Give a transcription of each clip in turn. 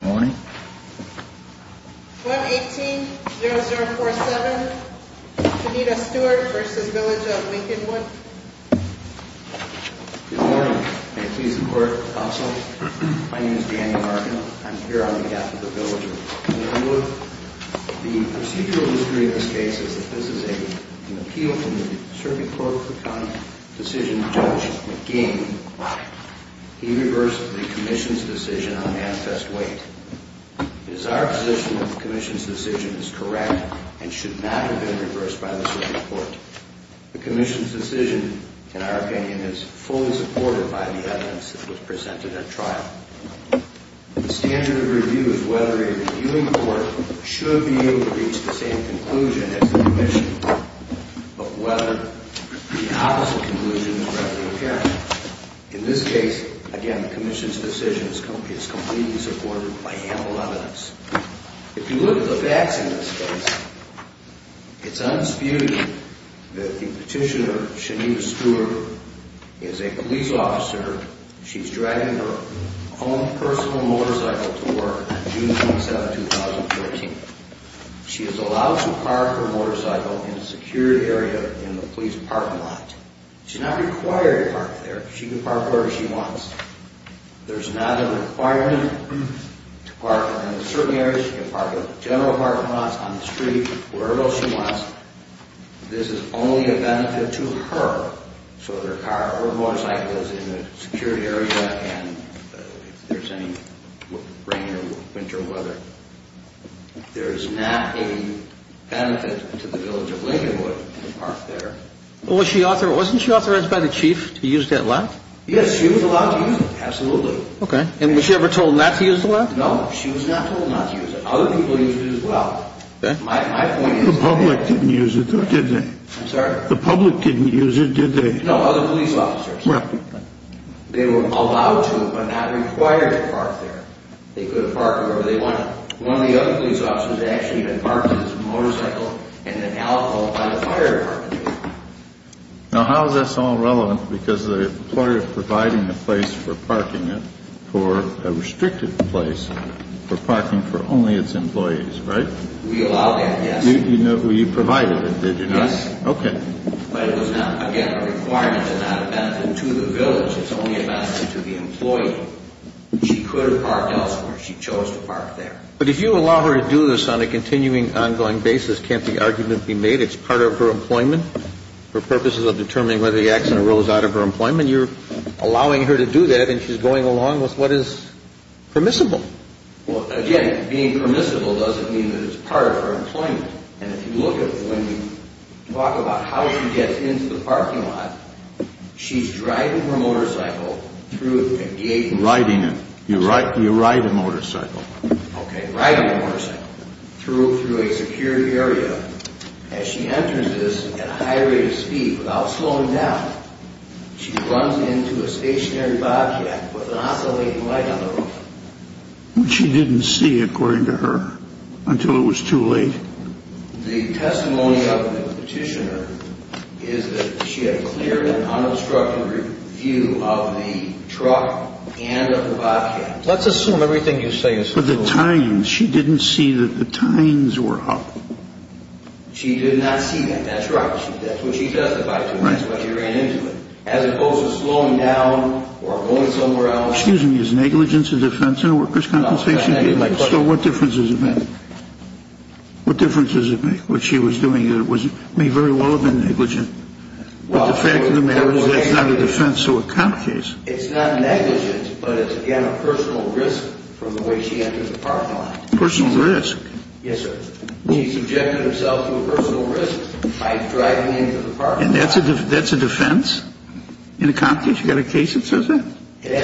Good morning. 118-0047 Kenita Stewart v. Village of Lincolnwood Good morning. May it please the Court. Also, my name is Daniel Martin. I'm here on behalf of the Village of Lincolnwood. The procedural history of this case is that this is an appeal from the Circuit Court for County Decision Judge McGeehan. He reversed the Commission's decision on manifest weight. It is our position that the Commission's decision is correct and should not have been reversed by the Circuit Court. The Commission's decision, in our opinion, is fully supported by the evidence that was presented at trial. The standard of review is whether a reviewing court should be able to reach the same conclusion as the Commission, but whether the opposite conclusion is correctly apparent. In this case, again, the Commission's decision is completely supported by ample evidence. If you look at the facts in this case, it's undisputed that the petitioner, Kenita Stewart, is a police officer. She's driving her own personal motorcycle to work on June 27, 2013. She is allowed to park her motorcycle in a secured area in the police parking lot. She's not required to park there. She can park wherever she wants. There's not a requirement to park in a certain area. She can park at a general parking lot, on the street, wherever else she wants. This is only a benefit to her, so her motorcycle is in a secured area and if there's any rain or winter weather. There's not a benefit to the village of Lincolnwood to park there. Wasn't she authorized by the Chief to use that lot? Yes, she was allowed to use it, absolutely. And was she ever told not to use the lot? No, she was not told not to use it. Other people used it as well. The public didn't use it, did they? I'm sorry? The public didn't use it, did they? No, other police officers. They were allowed to but not required to park there. They could park wherever they wanted. One of the other police officers actually had parked his motorcycle in an alcove by the fire department. We allowed that, yes. Yes. Okay. But it was not, again, a requirement and not a benefit to the village. It's only a benefit to the employee. She could have parked elsewhere. She chose to park there. But if you allow her to do this on a continuing, ongoing basis, can't the argument be made it's part of her employment? For purposes of determining whether the accident arose out of her employment, you're allowing her to do that and she's going along with what is permissible. Well, again, being permissible doesn't mean that it's part of her employment. And if you look at when we talk about how she gets into the parking lot, she's driving her motorcycle through a gate. Riding it. You ride a motorcycle. Okay. Riding a motorcycle through a secured area. As she enters this at a high rate of speed without slowing down, she runs into a stationary bobcat with an oscillating light on the roof. She didn't see, according to her, until it was too late. The testimony of the petitioner is that she had cleared an unobstructed review of the truck and of the bobcat. Let's assume everything you say is true. But the tines, she didn't see that the tines were up. She did not see that. That's right. That's what she testified to. Right. That's what she ran into. As opposed to slowing down or going somewhere else. Excuse me, is negligence a defense in a workers' compensation case? So what difference does it make? What difference does it make? What she was doing may very well have been negligent. But the fact of the matter is that's not a defense to a comp case. It's not negligent, but it's, again, a personal risk from the way she entered the parking lot. Personal risk. Yes, sir. She subjected herself to a personal risk by driving into the parking lot. And that's a defense in a comp case? You got a case that says that? The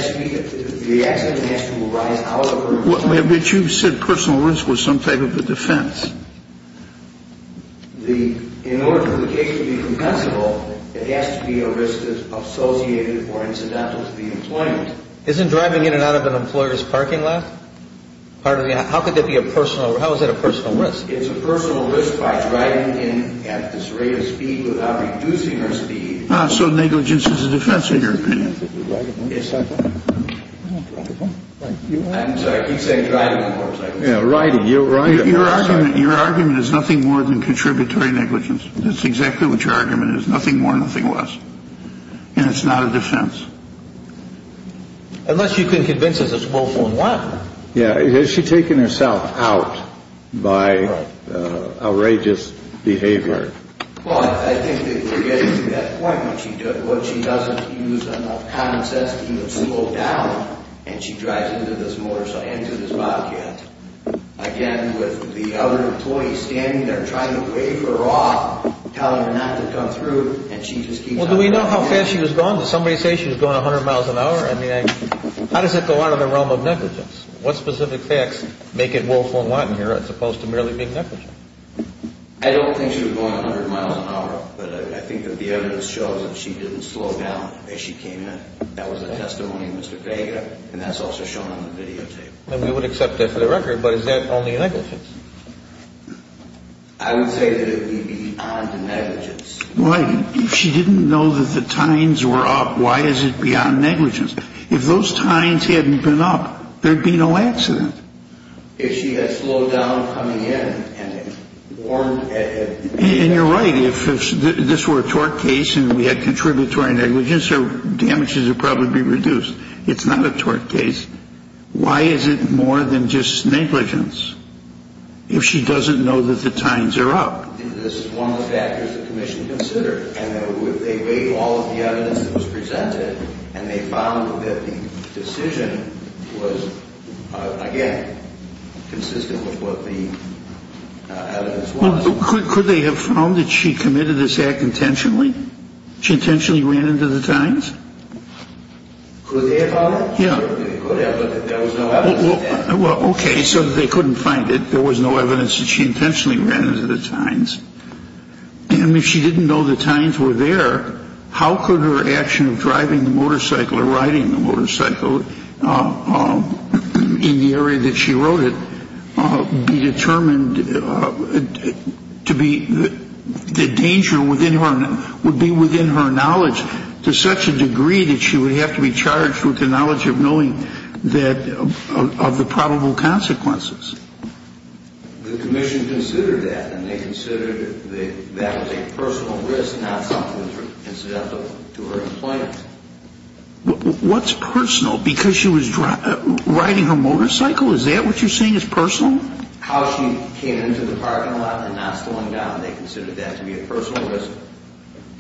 accident has to arise out of her employment. But you said personal risk was some type of a defense. In order for the case to be compensable, it has to be a risk that's associated or incidental to the employment. Isn't driving in and out of an employer's parking lot part of the – how could that be a personal – how is that a personal risk? It's a personal risk by driving in at this rate of speed without reducing her speed. So negligence is a defense in your opinion? Yes, I think. I'm sorry, he said driving, of course. Yeah, riding. Your argument is nothing more than contributory negligence. That's exactly what your argument is. Nothing more, nothing less. And it's not a defense. Unless you can convince us it's more than one. Yeah. Has she taken herself out by outrageous behavior? Well, I think that we're getting to that point where she doesn't use enough common sense to even slow down, and she drives into this motorcycle, into this bobcat. Again, with the other employees standing there trying to wave her off, telling her not to come through, and she just keeps – Well, do we know how fast she was going? Did somebody say she was going 100 miles an hour? I mean, how does that go out of the realm of negligence? What specific facts make it woeful and wanton here as opposed to merely being negligent? I don't think she was going 100 miles an hour, but I think that the evidence shows that she didn't slow down as she came in. That was a testimony of Mr. Vega, and that's also shown on the videotape. And we would accept that for the record, but is that only negligence? I would say that it would be beyond negligence. Right. If she didn't know that the tines were up, why is it beyond negligence? If those tines hadn't been up, there'd be no accident. If she had slowed down coming in and warned – And you're right. If this were a tort case and we had contributory negligence, her damages would probably be reduced. It's not a tort case. Why is it more than just negligence if she doesn't know that the tines are up? This is one of the factors the commission considered. And they weighed all of the evidence that was presented, and they found that the decision was, again, consistent with what the evidence was. Could they have found that she committed this act intentionally? She intentionally ran into the tines? Could they have found that? Sure, they could have, but there was no evidence. Well, okay, so they couldn't find it. There was no evidence that she intentionally ran into the tines. And if she didn't know the tines were there, how could her action of driving the motorcycle or riding the motorcycle in the area that she rode it be determined to be – the danger would be within her knowledge to such a degree that she would have to be charged with the knowledge of knowing that – of the probable consequences. The commission considered that, and they considered that that was a personal risk, not something that was incidental to her employment. What's personal? Because she was riding her motorcycle, is that what you're saying is personal? How she came into the parking lot and not slowing down, they considered that to be a personal risk.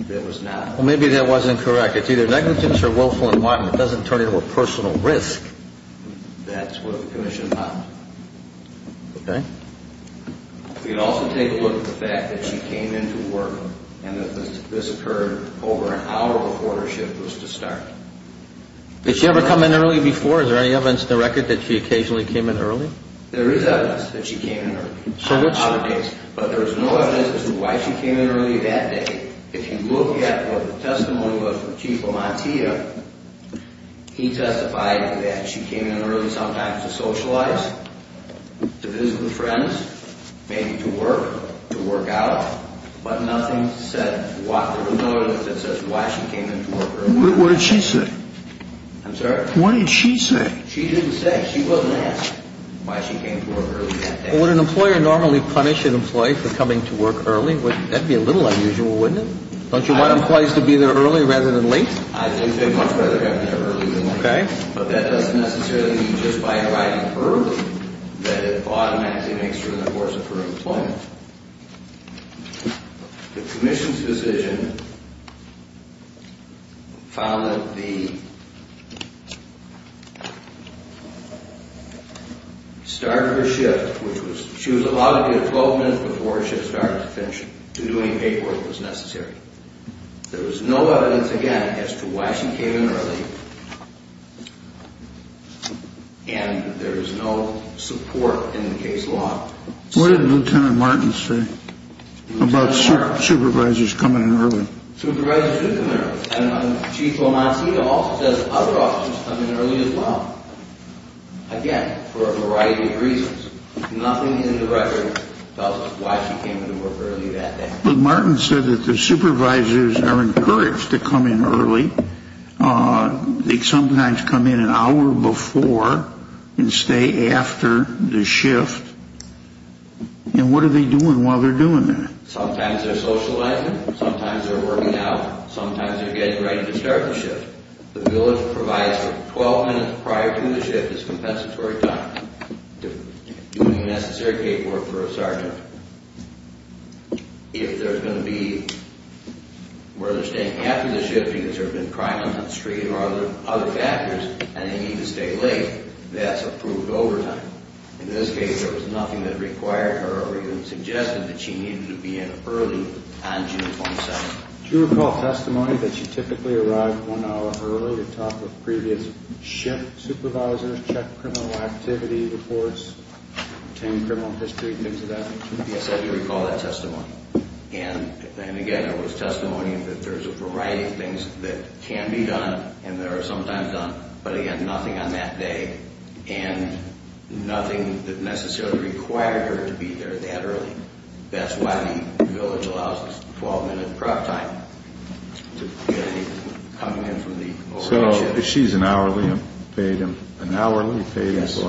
It was not. Well, maybe that wasn't correct. It's either negligence or willful and wanton. It doesn't turn into a personal risk. That's what the commission found. Okay. We also take a look at the fact that she came into work and that this occurred over an hour before her shift was to start. Did she ever come in early before? Is there any evidence in the record that she occasionally came in early? There is evidence that she came in early. So that's true. But there's no evidence as to why she came in early that day. If you look at what the testimony was from Chief Amantia, he testified that she came in early sometimes to socialize, to visit with friends, maybe to work, to work out. But nothing that says why she came in to work early. What did she say? I'm sorry? What did she say? She didn't say. She wasn't asked why she came to work early that day. Would an employer normally punish an employee for coming to work early? That would be a little unusual, wouldn't it? Don't you want employees to be there early rather than late? I think they'd much rather have them there early than late. Okay. But that doesn't necessarily mean just by arriving early that it automatically makes her an enforcer for employment. The commission's decision found that the start of her shift, which she was allowed to do 12 minutes before she started to finish doing paperwork, was necessary. There was no evidence, again, as to why she came in early. And there is no support in the case law. What did Lieutenant Martin say about supervisors coming in early? Supervisors do come in early. Chief Omancita also says other officers come in early as well, again, for a variety of reasons. Nothing in the record tells us why she came in to work early that day. But Martin said that the supervisors are encouraged to come in early. They sometimes come in an hour before and stay after the shift. And what are they doing while they're doing that? Sometimes they're socializing. Sometimes they're working out. Sometimes they're getting ready to start the shift. The village provides for 12 minutes prior to the shift as compensatory time to do the necessary paperwork for a sergeant. If they're going to be where they're staying after the shift because there have been crimes on the street or other factors and they need to stay late, that's approved overtime. In this case, there was nothing that required her or even suggested that she needed to be in early on June 27th. Do you recall testimony that she typically arrived one hour early to talk with previous shift supervisors, check criminal activity reports, obtain criminal history, things of that nature? Yes, I do recall that testimony. And, again, there was testimony that there's a variety of things that can be done and that are sometimes done. But, again, nothing on that day and nothing that necessarily required her to be there that early. That's why the village allows this 12-minute prep time to be coming in from the old shift. So she's an hourly paid employee. Yes.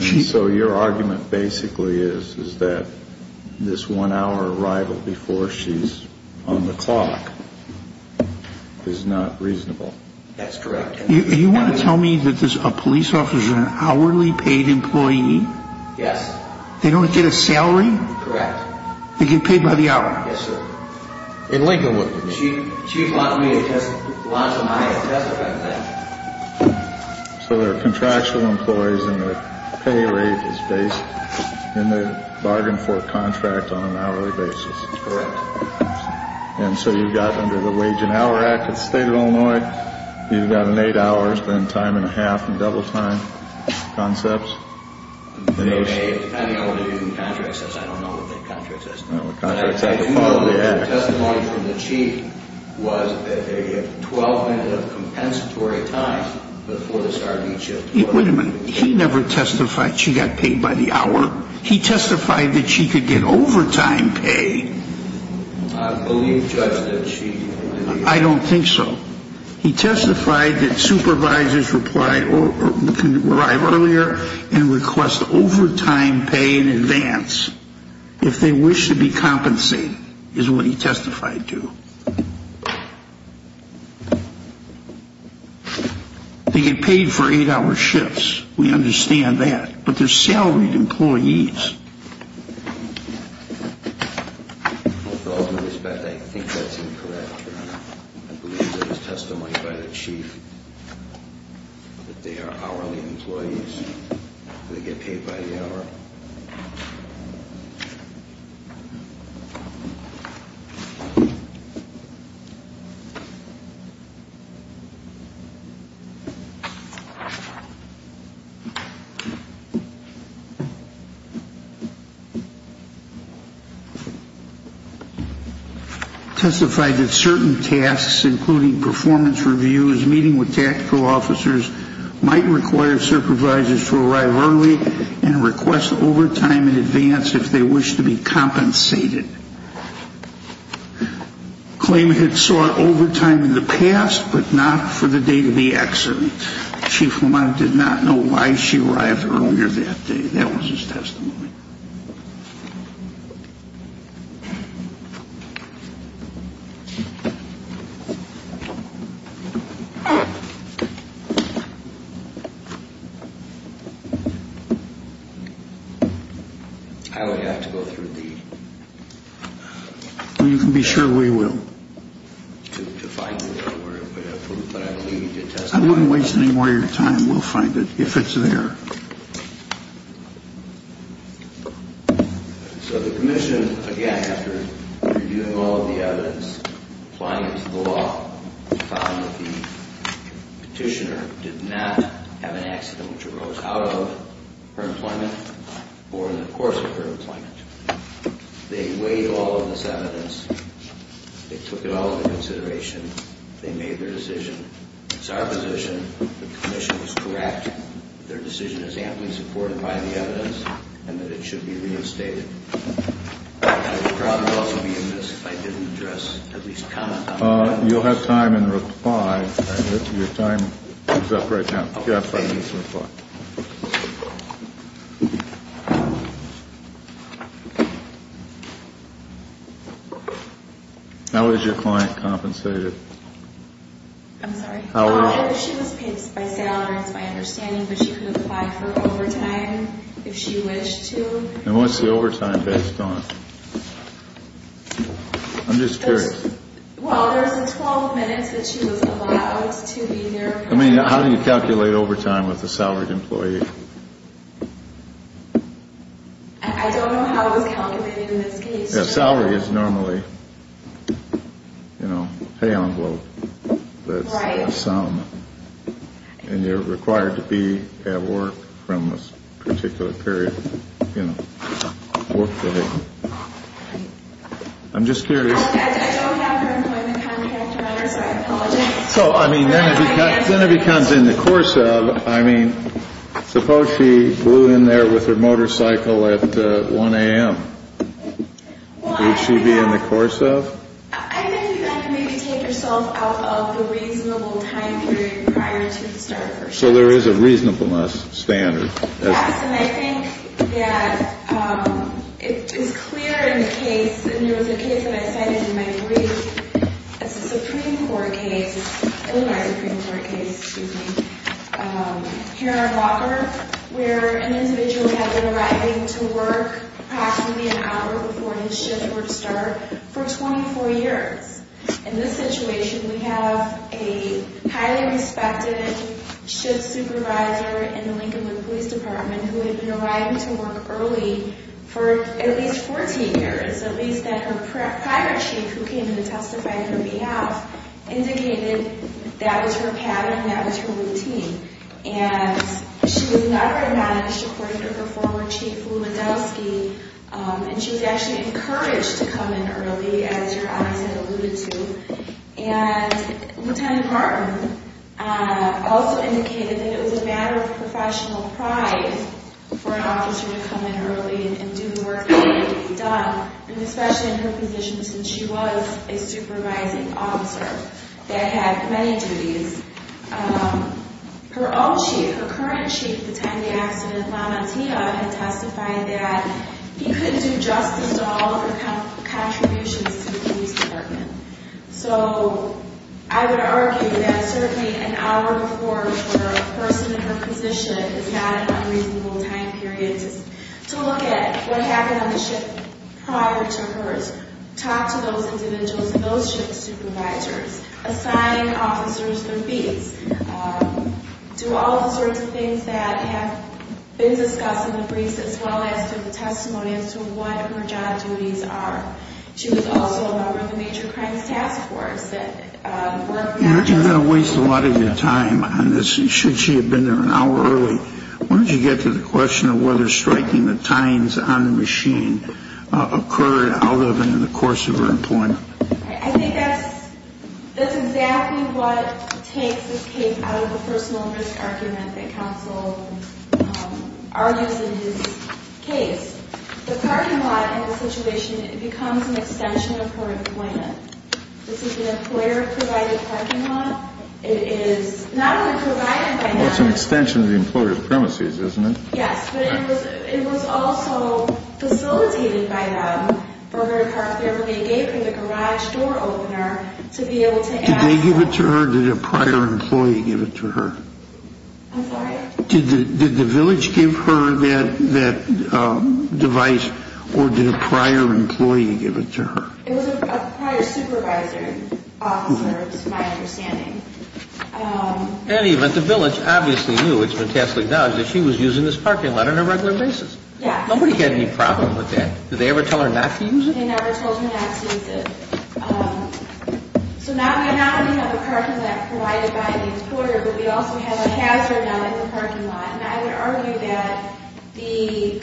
And so your argument basically is that this one-hour arrival before she's on the clock is not reasonable. That's correct. You want to tell me that a police officer is an hourly paid employee? Yes. They don't get a salary? Correct. They get paid by the hour? Yes, sir. And Lincoln, what do you mean? She wanted me to launch a money test about that. So there are contractual employees and the pay rate is based in the bargain for contract on an hourly basis. Correct. And so you've got under the Wage and Hour Act of the State of Illinois, you've got an eight hours, then time and a half and double time concepts. Depending on what the contract says. I don't know what the contract says. The testimony from the chief was that they get 12 minutes of compensatory time before the start of each shift. Wait a minute. He never testified she got paid by the hour. He testified that she could get overtime pay. I believe, Judge, that she did. I don't think so. He testified that supervisors can arrive earlier and request overtime pay in advance if they wish to be compensated is what he testified to. They get paid for eight hour shifts. We understand that. But they're salaried employees. With all due respect, I think that's incorrect. I believe that was testified by the chief that they are hourly employees. They get paid by the hour. Testified that certain tasks, including performance reviews, meeting with tactical officers, might require supervisors to arrive early and request overtime in advance if they wish to be compensated. Claimant had sought overtime in the past, but not for the date of the accident. Chief Lamont did not know why she arrived earlier that day. That was his testimony. I would have to go through the. You can be sure we will. I'm not wasting any more of your time. We'll find it if it's there. So the commission, again, after reviewing all of the evidence, applying it to the law, found that the petitioner did not have an accident which arose out of her employment or in the course of her employment. They weighed all of this evidence. They took it all into consideration. They made their decision. It's our position. The commission was correct. Their decision is amply supported by the evidence and that it should be reinstated. I didn't address at least you'll have time and your time is up right now. How is your client compensated? I'm sorry. I'm just curious. I mean, how do you calculate overtime with a salaried employee? Salary is normally, you know, pay envelope. And you're required to be at work from a particular period. I'm just curious. So, I mean, then it becomes in the course of, I mean, suppose she flew in there with her motorcycle at 1 a.m. Would she be in the course of? So, there is a reasonableness standard. Yes. And I think that it is clear in the case. And there was a case that I cited in my brief as a Supreme Court case. In my Supreme Court case, excuse me. Here in Walker, where an individual had been arriving to work approximately an hour before his shift would start for 24 years. In this situation, we have a highly respected shift supervisor in the Lincolnwood Police Department who had been arriving to work early for at least 14 years. At least that her prior chief, who came in to testify on her behalf, indicated that was her pattern and that was her routine. And she was an upper man. She reported to her former chief Lewandowski. And she was actually encouraged to come in early, as your eyes had alluded to. And Lieutenant Martin also indicated that it was a matter of professional pride for an officer to come in early and do the work that needed to be done. And especially in her position since she was a supervising officer that had many duties. Her own chief, her current chief at the time of the accident, Mama Tia, had testified that he couldn't do justice to all of her contributions to the police department. So I would argue that certainly an hour before for a person in her position is not an unreasonable time period to look at what happened on the shift prior to hers. Talk to those individuals and those shift supervisors. Assign officers their feats. Do all of the sorts of things that have been discussed in the briefs as well as through the testimony as to what her job duties are. She was also a member of the Major Crimes Task Force. You're going to waste a lot of your time on this, should she have been there an hour early. When did you get to the question of whether striking the tines on the machine occurred out of and in the course of her employment? I think that's exactly what takes this case out of the first momentous argument that counsel argues in his case. The parking lot in this situation becomes an extension of her employment. This is an employer-provided parking lot. It is not only provided by them. It's an extension of the employer's premises, isn't it? Yes, but it was also facilitated by them for her to park there when they gave her the garage door opener to be able to access it. Did they give it to her or did a prior employee give it to her? I'm sorry? Did the village give her that device or did a prior employee give it to her? It was a prior supervisor, officer, is my understanding. And even the village obviously knew, it's been task acknowledged, that she was using this parking lot on a regular basis. Nobody had any problem with that. Did they ever tell her not to use it? They never told her not to use it. So now we not only have a parking lot provided by the employer, but we also have a hazard on the parking lot. And I would argue that the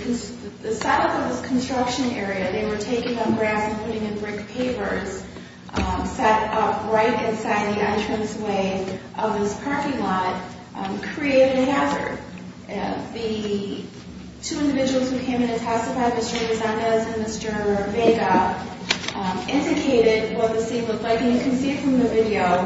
site of this construction area, they were taking up grass and putting in brick papers set up right inside the entranceway of this parking lot created a hazard. The two individuals who came and testified, Mr. Rezendez and Mr. Vega, indicated what the scene looked like. And you can see from the video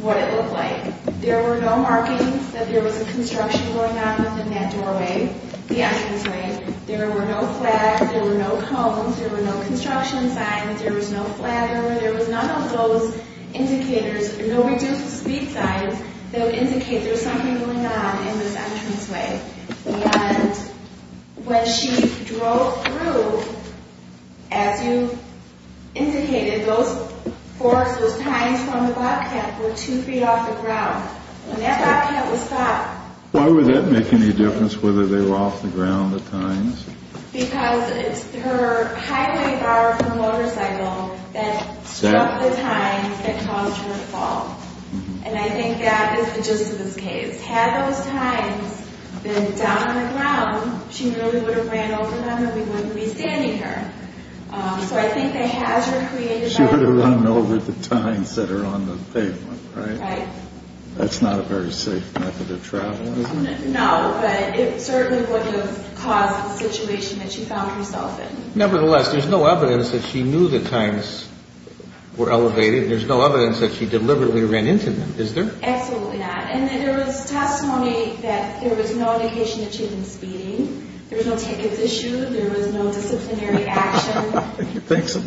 what it looked like. There were no markings that there was a construction going on within that doorway, the entranceway. There were no flags. There were no cones. There were no construction signs. There was no flatter. There was none of those indicators. No reduced speed signs that would indicate there was something going on in this entranceway. And when she drove through, as you indicated, those forks, those tines from the bobcat were two feet off the ground. And that bobcat was stopped. Why would that make any difference whether they were off the ground or tines? Because it's her highway bar from the motorcycle that struck the tines that caused her to fall. And I think that is the gist of this case. Had those tines been down on the ground, she really would have ran over them and we wouldn't be standing here. So I think the hazard created by the tines. She would have run over the tines that are on the pavement, right? Right. That's not a very safe method of travel, is it? No, but it certainly would have caused the situation that she found herself in. Nevertheless, there's no evidence that she knew the tines were elevated. There's no evidence that she deliberately ran into them, is there? Absolutely not. And there was testimony that there was no indication that she had been speeding. There was no tickets issued. There was no disciplinary action. She thinks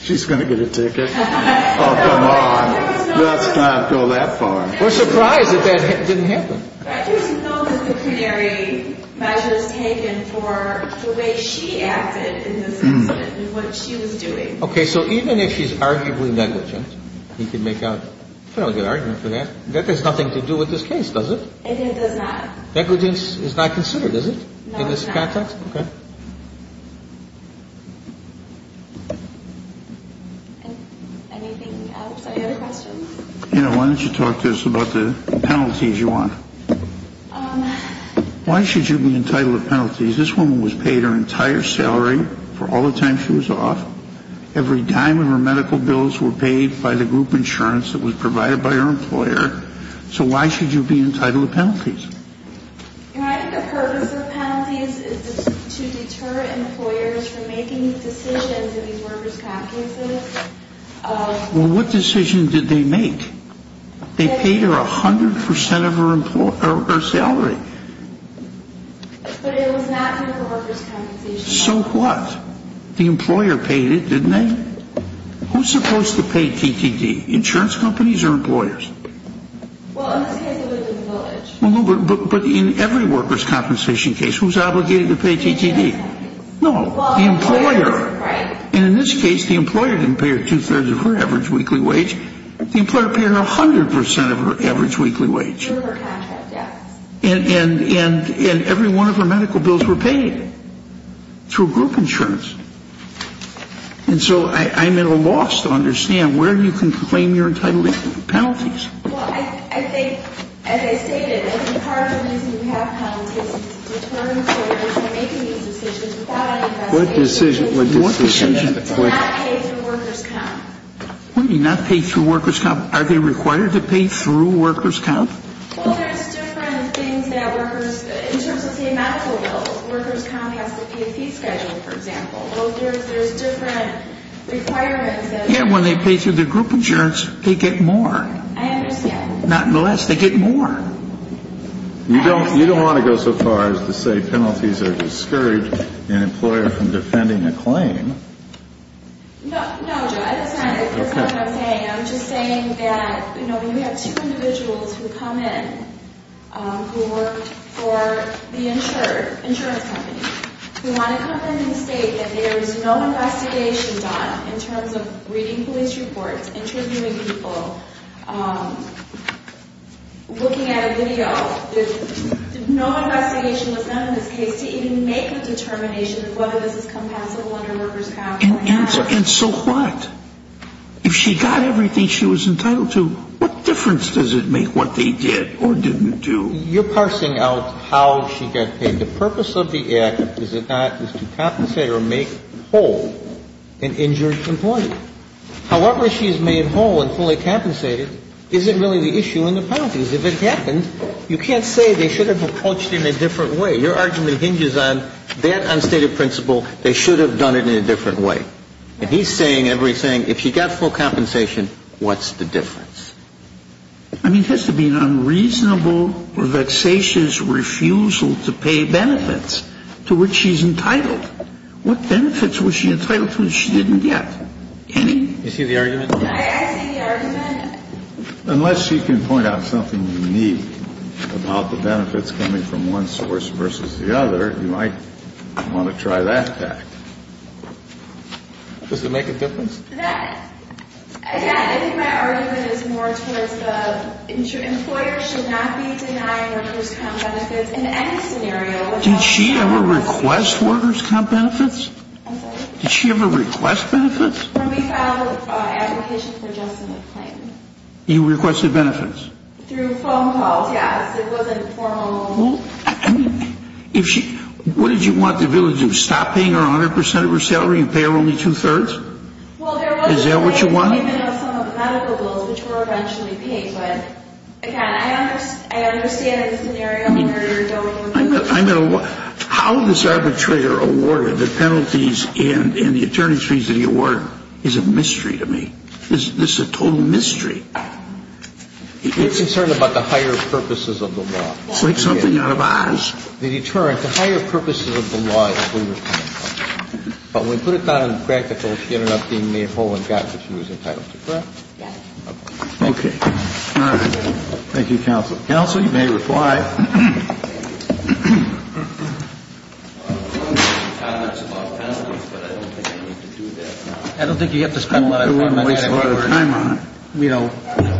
she's going to get a ticket. Oh, come on. Let's not go that far. We're surprised that that didn't happen. There's no disciplinary measures taken for the way she acted in this incident and what she was doing. Okay, so even if she's arguably negligent, you can make a fairly good argument for that. That has nothing to do with this case, does it? It does not. Negligence is not considered, is it, in this context? No, it's not. Okay. Anything else? Any other questions? Why don't you talk to us about the penalties you want? Why should you be entitled to penalties? This woman was paid her entire salary for all the time she was off. Every dime of her medical bills were paid by the group insurance that was provided by her employer. So why should you be entitled to penalties? I think the purpose of penalties is to deter employers from making decisions in these workers' comp cases. Well, what decision did they make? They paid her 100 percent of her salary. But it was not for workers' compensation. So what? The employer paid it, didn't they? Who's supposed to pay TTD, insurance companies or employers? Well, in this case, it was the village. But in every workers' compensation case, who's obligated to pay TTD? No, the employer. And in this case, the employer didn't pay her two-thirds of her average weekly wage. The employer paid her 100 percent of her average weekly wage. And every one of her medical bills were paid through group insurance. And so I'm at a loss to understand where you can claim you're entitled to penalties. Well, I think, as I stated, I think part of the reason you have penalties is to deter employers from making these decisions without any investigation. What decision? To not pay through workers' comp. What do you mean, not pay through workers' comp? Are they required to pay through workers' comp? Well, there's different things that workers, in terms of, say, medical bills, workers' comp has to pay a fee schedule, for example. Well, there's different requirements. Yeah, when they pay through the group insurance, they get more. I understand. Not less. They get more. You don't want to go so far as to say penalties are discouraged an employer from defending a claim. No, Joe, that's not what I'm saying. I'm just saying that, you know, we have two individuals who come in who work for the insurance company. We want to come in and state that there is no investigation done in terms of reading police reports, interviewing people, looking at a video. No investigation was done in this case to even make a determination of whether this is compatible under workers' comp. And so what? If she got everything she was entitled to, what difference does it make what they did or didn't do? You're parsing out how she got paid. The purpose of the act, is it not, is to compensate or make whole an injured employee. However she is made whole and fully compensated isn't really the issue in the penalties. If it happened, you can't say they should have approached it in a different way. Your argument hinges on that unstated principle, they should have done it in a different way. And he's saying everything, if she got full compensation, what's the difference? I mean, it has to be an unreasonable or vexatious refusal to pay benefits to which she's entitled. What benefits was she entitled to that she didn't get? Can you? You see the argument? I see the argument. Unless she can point out something unique about the benefits coming from one source versus the other, you might want to try that fact. Does it make a difference? Yeah, I think my argument is more towards the employer should not be denying workers' comp benefits in any scenario. Did she ever request workers' comp benefits? I'm sorry? Did she ever request benefits? When we filed an application for Justin McClain. You requested benefits? Through phone calls, yes. It wasn't formal. What did you want the bill to do, stop paying her 100% of her salary and pay her only two-thirds? Is that what you want? Well, there was some medical bills which were eventually paid, but again, I understand the scenario where you're going with this. How this arbitrator awarded the penalties and the attorney's fees that he awarded is a mystery to me. This is a total mystery. He's concerned about the higher purposes of the law. It's like something out of Oz. The deterrent, the higher purposes of the law that we were talking about. But when we put it down in practical, she ended up being made whole and got what she was entitled to, correct? Yes. Okay. All right. Thank you, counsel. Counsel, you may reply. I don't think you have to spend a lot of time on it, you know,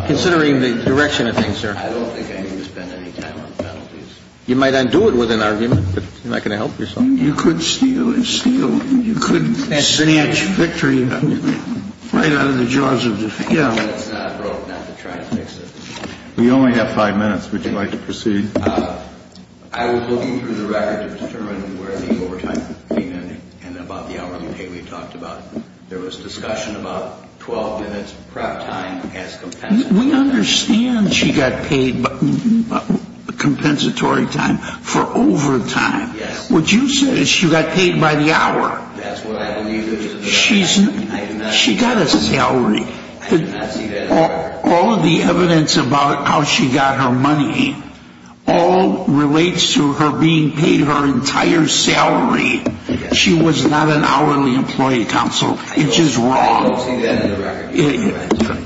considering the direction of things, sir. I don't think I need to spend any time on penalties. You might undo it with an argument, but you're not going to help yourself. You could steal it, steal it. You could snatch victory right out of the jaws of defeat. It's not wrong not to try to fix it. We only have five minutes. Would you like to proceed? I was looking through the record to determine where the overtime fee ended and about the hourly pay we talked about. There was discussion about 12 minutes prep time as compensated. We understand she got paid compensatory time for overtime. Yes. What you said is she got paid by the hour. That's what I believe it is. She got a salary. I do not see that in the record. All of the evidence about how she got her money all relates to her being paid her entire salary. She was not an hourly employee, counsel. It's just wrong. I don't see that in the record.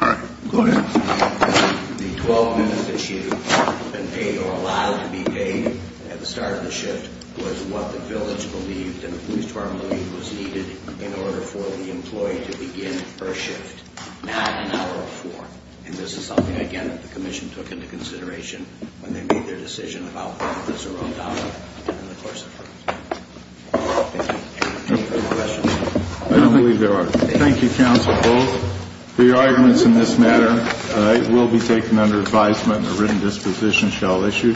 All right. Go ahead. The 12 minutes that she had been paid or allowed to be paid at the start of the shift was what the village believed and the police department believed was needed in order for the employee to begin her shift, not an hour before. And this is something, again, that the commission took into consideration when they made their decision about whether it was a wrong dollar in the course of her shift. Thank you. Any further questions? I believe there are. Thank you, counsel, both. The arguments in this matter will be taken under advisement and a written disposition shall issue.